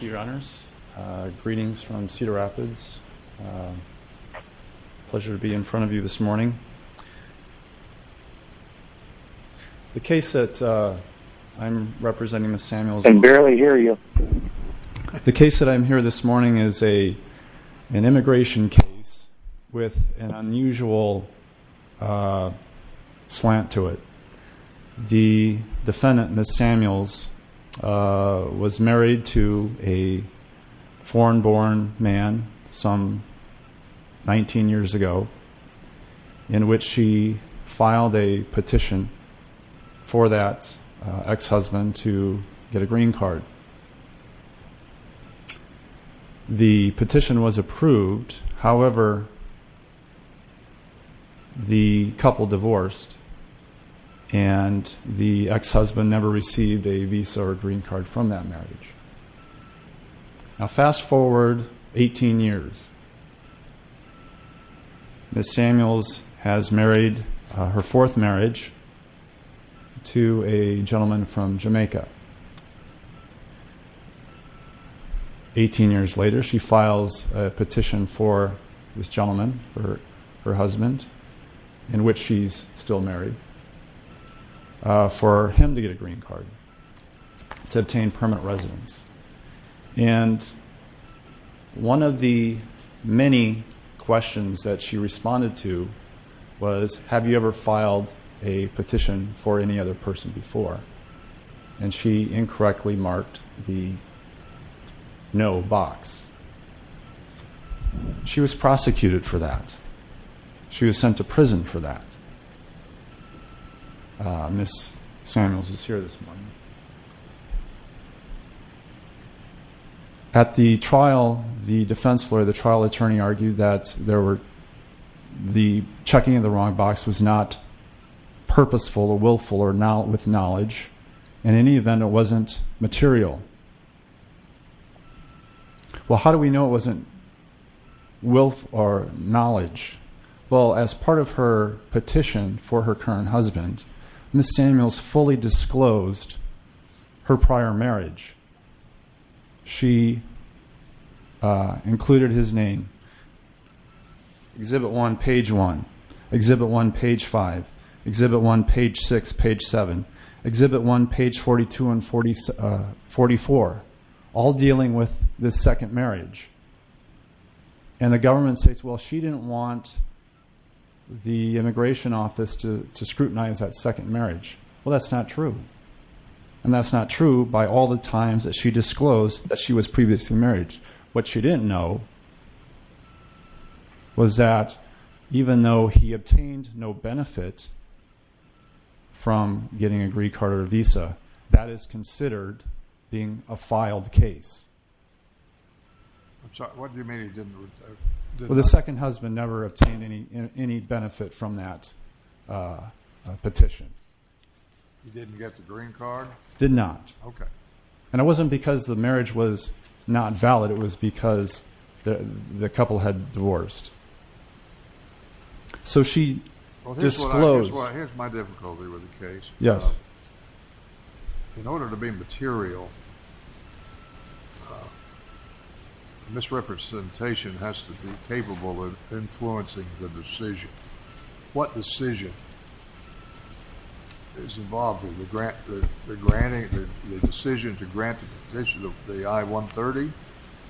Greetings from Cedar Rapids. Pleasure to be in front of you this morning. The case that I'm representing Ms. Samuels- I can barely hear you. The case that I'm here this morning is an immigration case with an unusual slant to it. The defendant, Ms. Samuels, was married to a foreign-born man some 19 years ago, in which she filed a petition for that ex-husband to get a green card. The petition was approved, however, the couple divorced, and the ex-husband never received a visa or green card from that marriage. Now fast forward 18 years. Ms. Samuels has married her fourth marriage to a gentleman from Jamaica. 18 years later, she files a petition for this gentleman, her husband, in which she's still married, for him to get a green card to obtain permanent residence. And one of the many questions that she responded to was, have you ever filed a petition for any other person before? And she incorrectly marked the no box. She was prosecuted for that. She was sent to prison for that. Ms. Samuels is here this morning. At the trial, the defense lawyer, the trial attorney, argued that the checking of the wrong box was not purposeful or willful or with knowledge. In any event, it wasn't material. Well, how do we know it wasn't willful or knowledge? Well, as part of her petition for her current husband, Ms. Samuels fully disclosed her prior marriage. She included his name, Exhibit 1, Page 1, Exhibit 1, Page 5, Exhibit 1, Page 6, Page 7, Exhibit 1, Page 42 and 44, all dealing with this second marriage. And the government states, well, she didn't want the immigration office to scrutinize that second marriage. Well, that's not true. And that's not true by all the times that she disclosed that she was previously married. What she didn't know was that even though he obtained no benefit from getting a green card or visa, that is considered being a filed case. What do you mean he didn't? Well, the second husband never obtained any benefit from that petition. He didn't get the green card? Did not. Okay. And it wasn't because the marriage was not valid. It was because the couple had divorced. So she disclosed. Well, here's my difficulty with the case. Yes. In order to be material, misrepresentation has to be capable of influencing the decision. What decision is involved in the decision to grant the petition of the I-130?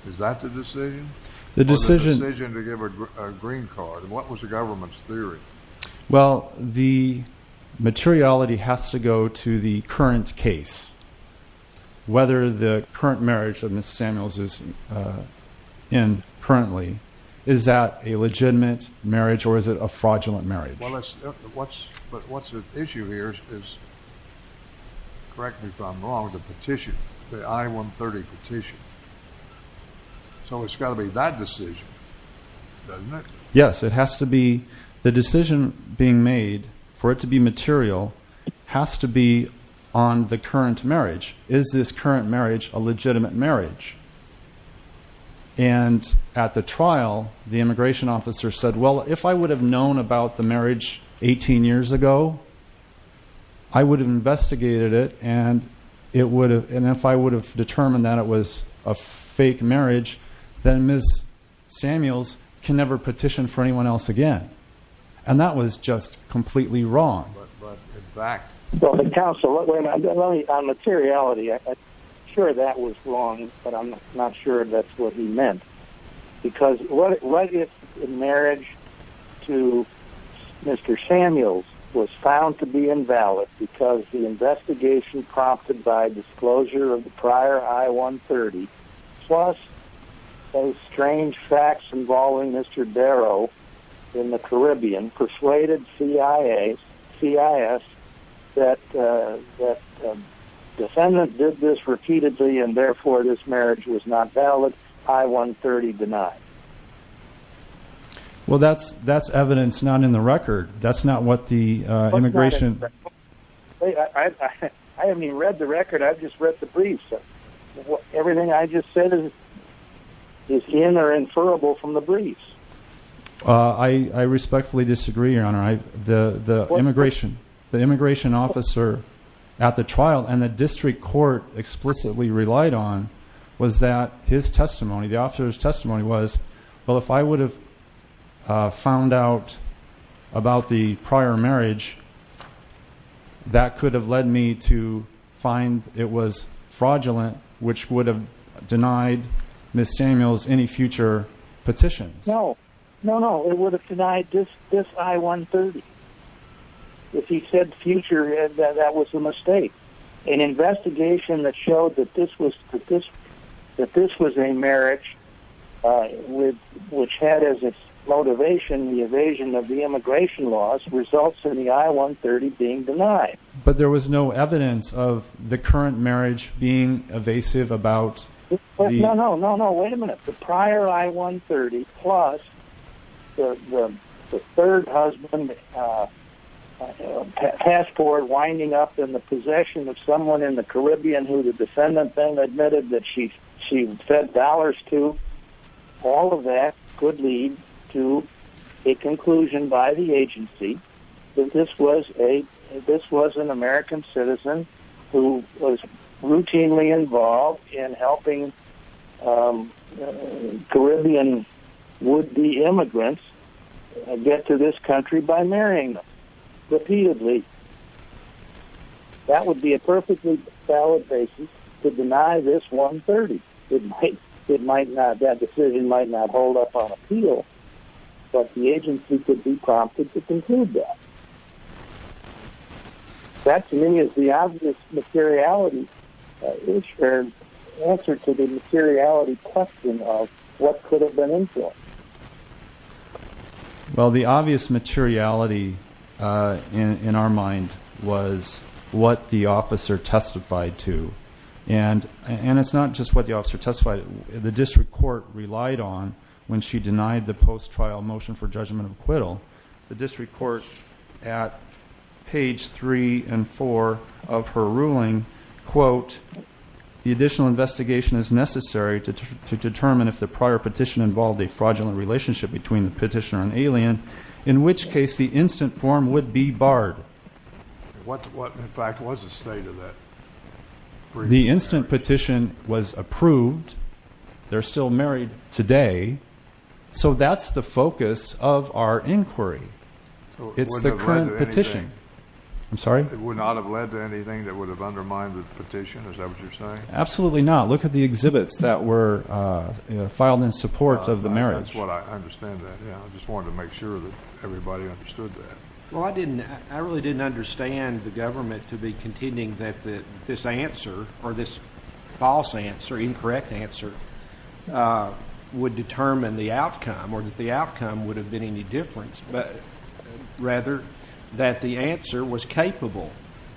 Is that the decision? The decision to give a green card. And what was the government's theory? Well, the materiality has to go to the current case. Whether the current marriage that Ms. Samuels is in currently, is that a legitimate marriage or is it a fraudulent marriage? But what's at issue here is, correct me if I'm wrong, the petition, the I-130 petition. So it's got to be that decision, doesn't it? Yes, it has to be. The decision being made for it to be material has to be on the current marriage. Is this current marriage a legitimate marriage? And at the trial, the immigration officer said, well, if I would have known about the marriage 18 years ago, I would have investigated it and if I would have determined that it was a fake marriage, then Ms. Samuels can never petition for anyone else again. And that was just completely wrong. But in fact... Well, counsel, on materiality, I'm sure that was wrong, but I'm not sure that's what he meant. Because what if the marriage to Mr. Samuels was found to be invalid because the investigation prompted by disclosure of the prior I-130, plus some strange facts involving Mr. Darrow in the Caribbean, persuaded CIS that the defendant did this repeatedly and therefore this marriage was not valid, I-130 denied. Well, that's evidence not in the record. That's not what the immigration... I haven't even read the record. I've just read the briefs. Everything I just said is in or inferable from the briefs. I respectfully disagree, Your Honor. The immigration officer at the trial and the district court explicitly relied on was that his testimony, the officer's testimony was, well, if I would have found out about the prior marriage, that could have led me to find it was fraudulent, which would have denied Ms. Samuels any future petitions. No, no, no. It would have denied this I-130. If he said future, that was a mistake. An investigation that showed that this was a marriage which had as its motivation the evasion of the immigration laws results in the I-130 being denied. But there was no evidence of the current marriage being evasive about the... No, no, no. of someone in the Caribbean who the defendant then admitted that she had fed dollars to, all of that could lead to a conclusion by the agency that this was an American citizen who was routinely involved in helping Caribbean would-be immigrants get to this country by marrying them repeatedly. That would be a perfectly valid basis to deny this I-130. It might not, that decision might not hold up on appeal, but the agency could be prompted to conclude that. That, to me, is the obvious materiality, is the answer to the materiality question of what could have been enforced. Well, the obvious materiality in our mind was what the officer testified to. And it's not just what the officer testified to. The district court relied on, when she denied the post-trial motion for judgment of acquittal, the district court at page 3 and 4 of her ruling, quote, the additional investigation is necessary to determine if the prior petition involved a fraudulent relationship between the petitioner and alien, in which case the instant form would be barred. What, in fact, was the state of that brief marriage? The instant petition was approved. They're still married today. So that's the focus of our inquiry. It's the current petition. I'm sorry? It would not have led to anything that would have undermined the petition. Is that what you're saying? Absolutely not. Look at the exhibits that were filed in support of the marriage. That's what I understand that. I just wanted to make sure that everybody understood that. Well, I didn't. I really didn't understand the government to be contending that this answer or this false answer, incorrect answer, would determine the outcome or that the outcome would have been any difference, rather that the answer was capable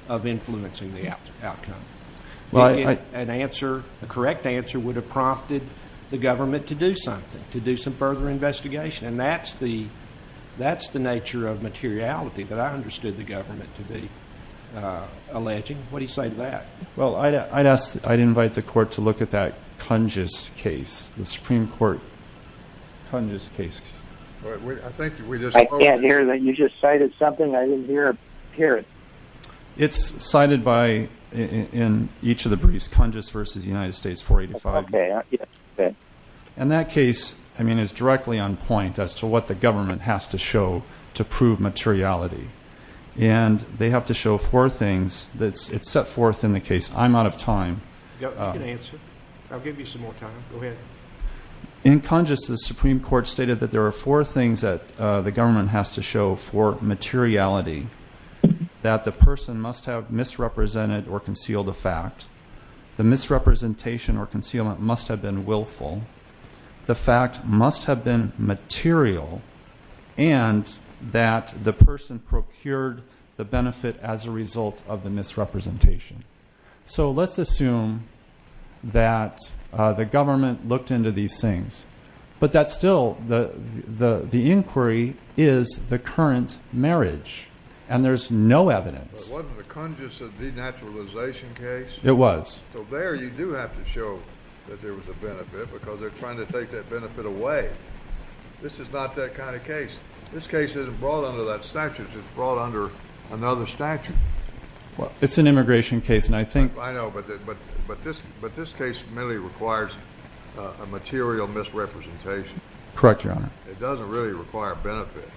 of influencing the outcome. An answer, a correct answer, would have prompted the government to do something, to do some further investigation. And that's the nature of materiality that I understood the government to be alleging. What do you say to that? Well, I'd invite the court to look at that Kunzges case, the Supreme Court Kunzges case. I can't hear that. You just cited something. I didn't hear it. It's cited by, in each of the briefs, Kunzges v. United States 485. Okay. And that case, I mean, is directly on point as to what the government has to show to prove materiality. And they have to show four things that's set forth in the case. I'm out of time. You can answer. I'll give you some more time. Go ahead. In Kunzges, the Supreme Court stated that there are four things that the government has to show for materiality, that the person must have misrepresented or concealed a fact, the misrepresentation or concealment must have been willful, the fact must have been material, and that the person procured the benefit as a result of the misrepresentation. So let's assume that the government looked into these things, but that still the inquiry is the current marriage, and there's no evidence. But wasn't the Kunzges a denaturalization case? It was. So there you do have to show that there was a benefit because they're trying to take that benefit away. This is not that kind of case. This case isn't brought under that statute. It's brought under another statute. It's an immigration case, and I think — I know, but this case merely requires a material misrepresentation. Correct, Your Honor. It doesn't really require a benefit.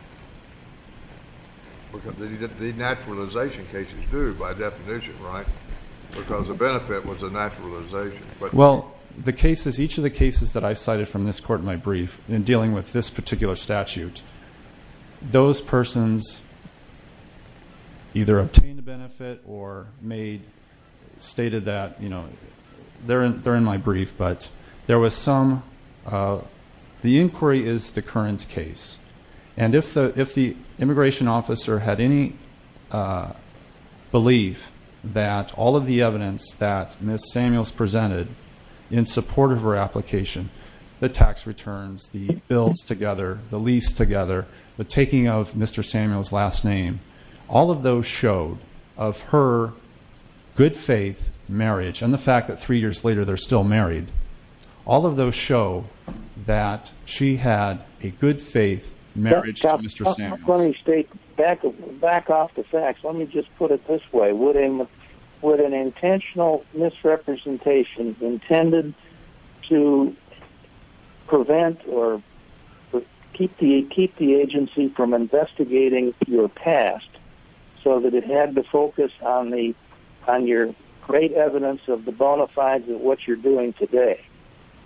Denaturalization cases do, by definition, right? Because a benefit was a denaturalization. Well, the cases, each of the cases that I cited from this court in my brief in dealing with this particular statute, those persons either obtained a benefit or made — stated that, you know, they're in my brief. But there was some — the inquiry is the current case. And if the immigration officer had any belief that all of the evidence that Ms. Samuels presented in support of her application, the tax returns, the bills together, the lease together, the taking of Mr. Samuels' last name, all of those showed of her good-faith marriage and the fact that three years later they're still married, all of those show that she had a good-faith marriage to Mr. Samuels. Let me state back off the facts. Let me just put it this way. Would an intentional misrepresentation intended to prevent or keep the agency from investigating your past so that it had to focus on your great evidence of the bona fides of what you're doing today,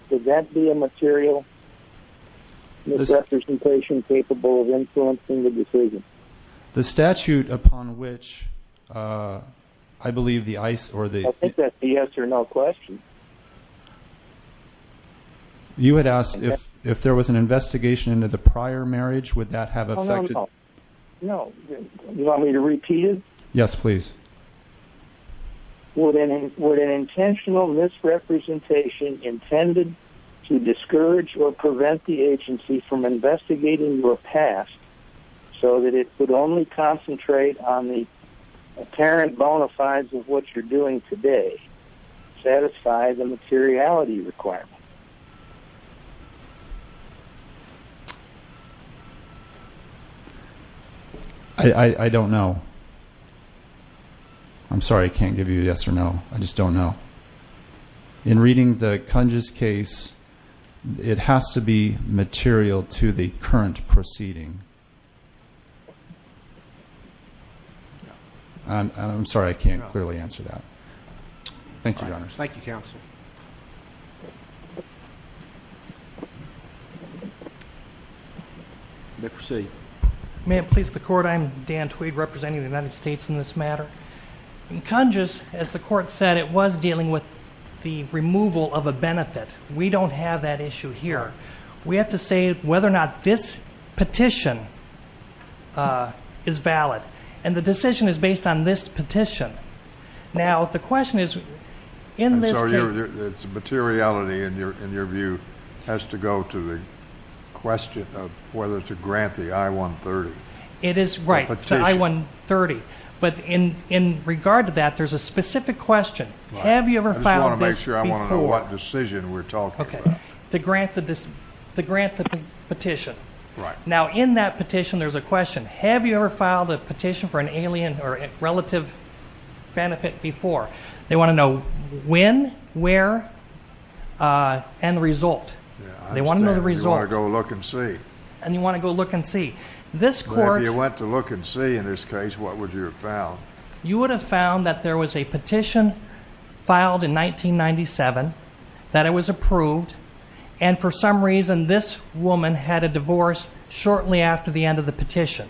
would that be a material misrepresentation capable of influencing the decision? The statute upon which I believe the ICE or the — I think that's the yes or no question. You had asked if there was an investigation into the prior marriage, would that have affected — No, no, no. No. You want me to repeat it? Yes, please. Would an intentional misrepresentation intended to discourage or prevent the agency from investigating your past so that it could only concentrate on the apparent bona fides of what you're doing today, satisfy the materiality requirement? I don't know. I'm sorry I can't give you a yes or no. I just don't know. In reading the Kunges case, it has to be material to the current proceeding. I'm sorry, I can't clearly answer that. Thank you, Your Honors. Thank you, Counsel. You may proceed. May it please the Court, I am Dan Tweed representing the United States in this matter. In Kunges, as the Court said, it was dealing with the removal of a benefit. We don't have that issue here. We have to say whether or not this petition is valid. And the decision is based on this petition. Now, the question is, in this case — And so its materiality, in your view, has to go to the question of whether to grant the I-130. It is, right, the I-130. But in regard to that, there's a specific question. Have you ever filed this before? I just want to make sure I want to know what decision we're talking about. Okay. To grant the petition. Right. Now, in that petition, there's a question. Have you ever filed a petition for an alien or relative benefit before? They want to know when, where, and the result. Yeah, I understand. They want to know the result. You want to go look and see. And you want to go look and see. But if you went to look and see in this case, what would you have found? You would have found that there was a petition filed in 1997 that it was approved, and for some reason this woman had a divorce shortly after the end of the petition.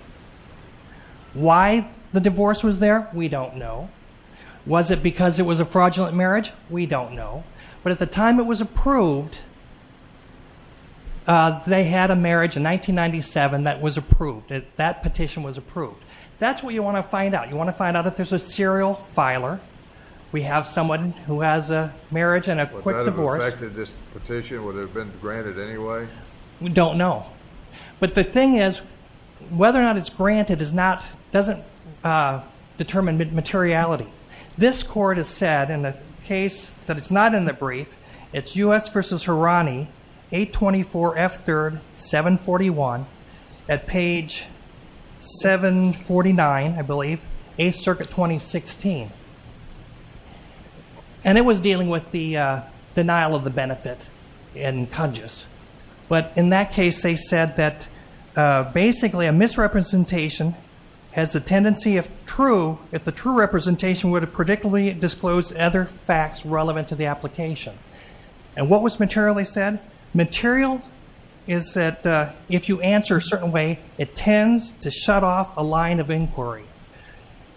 Why the divorce was there, we don't know. Was it because it was a fraudulent marriage? We don't know. But at the time it was approved, they had a marriage in 1997 that was approved. That petition was approved. That's what you want to find out. You want to find out if there's a serial filer. We have someone who has a marriage and a quick divorce. Would that have affected this petition? Would it have been granted anyway? We don't know. But the thing is, whether or not it's granted doesn't determine materiality. This court has said, in a case that is not in the brief, it's U.S. v. Hirani, 824 F. 3rd, 741, at page 749, I believe, 8th Circuit, 2016. And it was dealing with the denial of the benefit in conjus. But in that case, they said that basically a misrepresentation has a tendency of true, but a misrepresentation would have particularly disclosed other facts relevant to the application. And what was materially said? Material is that if you answer a certain way, it tends to shut off a line of inquiry.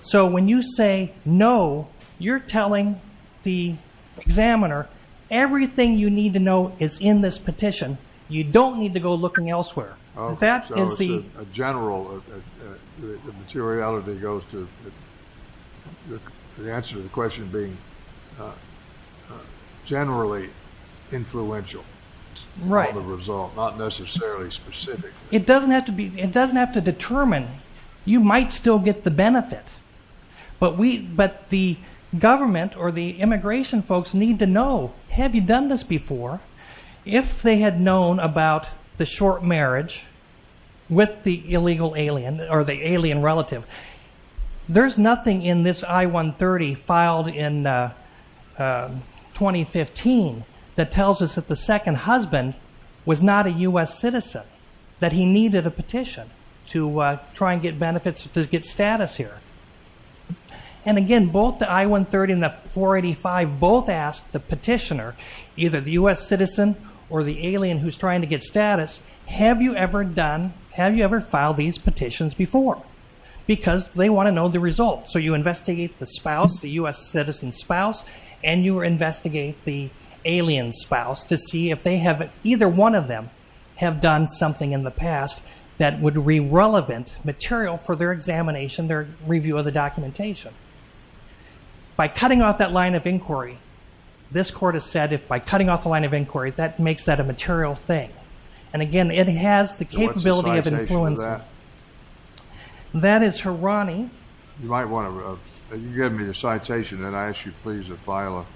So when you say no, you're telling the examiner everything you need to know is in this petition. You don't need to go looking elsewhere. So it's a general materiality goes to the answer to the question being generally influential. Right. Not necessarily specific. It doesn't have to determine. You might still get the benefit. But the government or the immigration folks need to know, have you done this before? If they had known about the short marriage with the illegal alien or the alien relative, there's nothing in this I-130 filed in 2015 that tells us that the second husband was not a U.S. citizen, that he needed a petition to try and get benefits to get status here. And again, both the I-130 and the 485 both asked the petitioner, either the U.S. citizen or the alien who's trying to get status, have you ever filed these petitions before? Because they want to know the results. So you investigate the spouse, the U.S. citizen spouse, and you investigate the alien spouse to see if either one of them have done something in the past that would be relevant material for their examination, their review of the documentation. By cutting off that line of inquiry, this court has said if by cutting off the line of inquiry, that makes that a material thing. And again, it has the capability of influencing. So what's the citation of that? That is Hirani. You might want to give me the citation, and I ask you please to file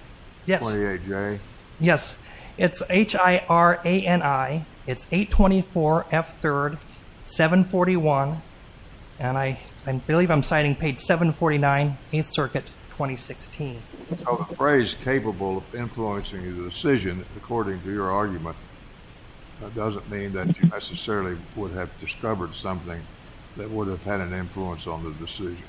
a 28-J. Yes. It's H-I-R-A-N-I. It's 824 F. 3rd, 741. And I believe I'm citing page 749, 8th Circuit, 2016. A phrase capable of influencing a decision, according to your argument, doesn't mean that you necessarily would have discovered something that would have had an influence on the decision.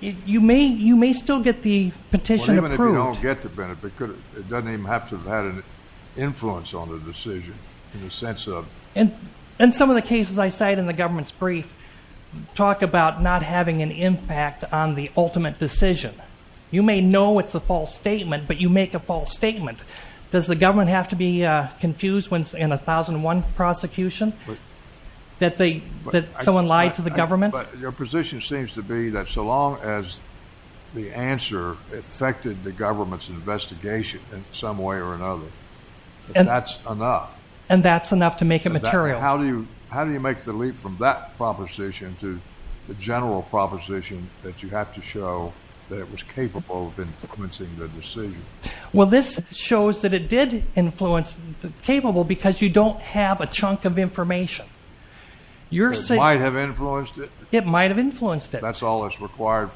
You may still get the petition approved. Well, even if you don't get the petition approved, it doesn't even have to have had an influence on the decision in the sense of... And some of the cases I cite in the government's brief talk about not having an impact on the ultimate decision. You may know it's a false statement, but you make a false statement. Does the government have to be confused in a 1001 prosecution that someone lied to the government? But your position seems to be that so long as the answer affected the government's investigation in some way or another, that's enough. And that's enough to make it material. How do you make the leap from that proposition to the general proposition that you have to show that it was capable of influencing the decision? Well, this shows that it did influence capable because you don't have a chunk of information. It might have influenced it? It might have influenced it. That's all that's required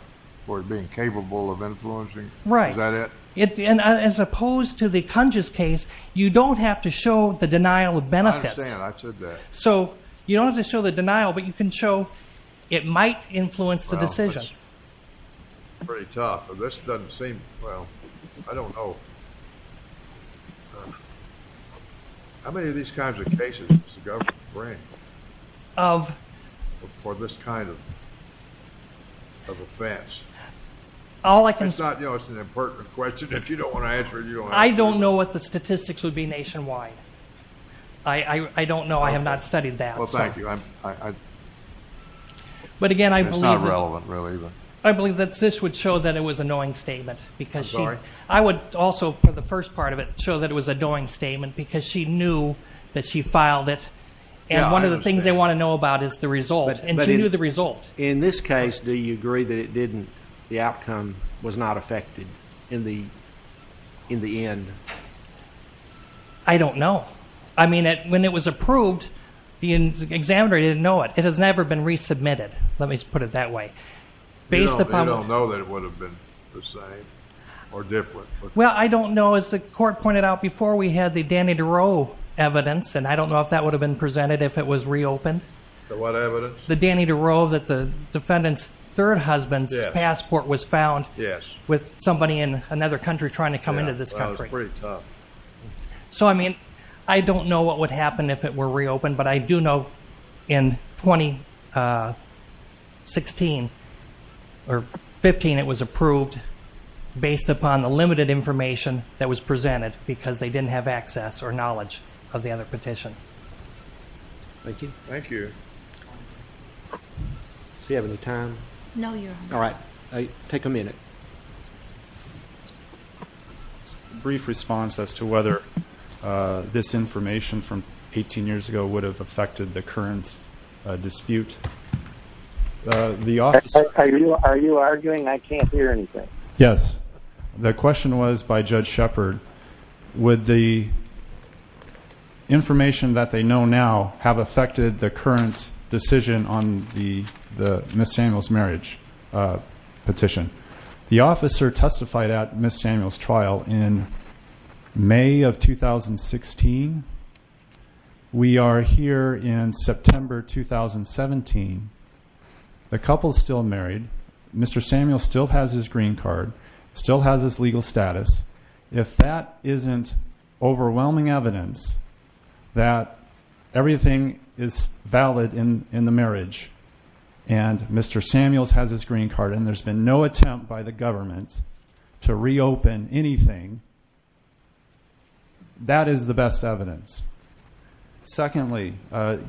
for it being capable of influencing? Right. Is that it? And as opposed to the Kunz's case, you don't have to show the denial of benefits. I understand. I said that. So you don't have to show the denial, but you can show it might influence the decision. Well, that's pretty tough. This doesn't seem... Well, I don't know. How many of these kinds of cases does the government bring for this kind of offense? It's an important question. If you don't want to answer it, you don't have to. I don't know what the statistics would be nationwide. I don't know. I have not studied that. Well, thank you. It's not relevant, really. I believe that this would show that it was a knowing statement. I'm sorry? It would also, for the first part of it, show that it was a knowing statement because she knew that she filed it, and one of the things they want to know about is the result, and she knew the result. In this case, do you agree that the outcome was not affected in the end? I don't know. I mean, when it was approved, the examiner didn't know it. It has never been resubmitted, let me put it that way. They don't know that it would have been the same or different. Well, I don't know. As the court pointed out before, we had the Danny DeRoe evidence, and I don't know if that would have been presented if it was reopened. The what evidence? The Danny DeRoe that the defendant's third husband's passport was found with somebody in another country trying to come into this country. That was pretty tough. So, I mean, I don't know what would happen if it were reopened, but I do know in 2015 it was approved based upon the limited information that was presented because they didn't have access or knowledge of the other petition. Thank you. Thank you. Does he have any time? All right. Take a minute. Brief response as to whether this information from 18 years ago would have affected the current dispute. Are you arguing I can't hear anything? Yes. The question was by Judge Shepard, would the information that they know now have affected the current decision on the Miss Samuel's marriage petition? The officer testified at Miss Samuel's trial in May of 2016. We are here in September 2017. The couple is still married. Mr. Samuel still has his green card, still has his legal status. If that isn't overwhelming evidence that everything is valid in the marriage and Mr. Samuel's has his green card and there's been no attempt by the government to reopen anything, that is the best evidence. Secondly,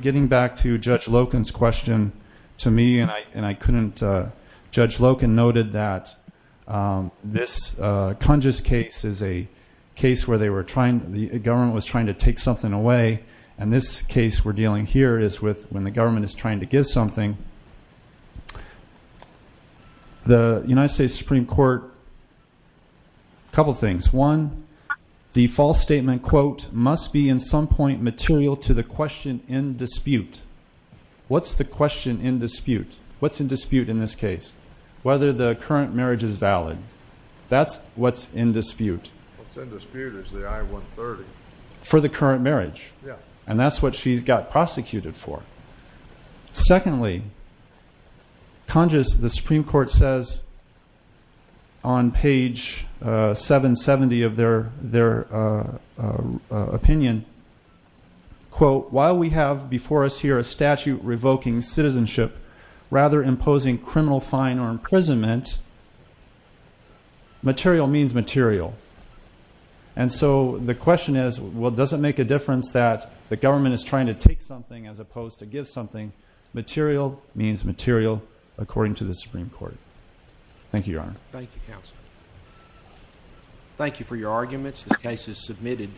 getting back to Judge Loken's question to me, and Judge Loken noted that this Congess case is a case where the government was trying to take something away, and this case we're dealing here is when the government is trying to give something. The United States Supreme Court, a couple things. One, the false statement, quote, must be in some point material to the question in dispute. What's the question in dispute? What's in dispute in this case? Whether the current marriage is valid. That's what's in dispute. What's in dispute is the I-130. For the current marriage. And that's what she got prosecuted for. Secondly, Congess, the Supreme Court says on page 770 of their opinion, quote, while we have before us here a statute revoking citizenship, rather imposing criminal fine or imprisonment, material means material. And so the question is, well, does it make a difference that the government is trying to take something as opposed to give something? Material means material, according to the Supreme Court. Thank you, Your Honor. Thank you, Counselor. Thank you for your arguments. This case is submitted.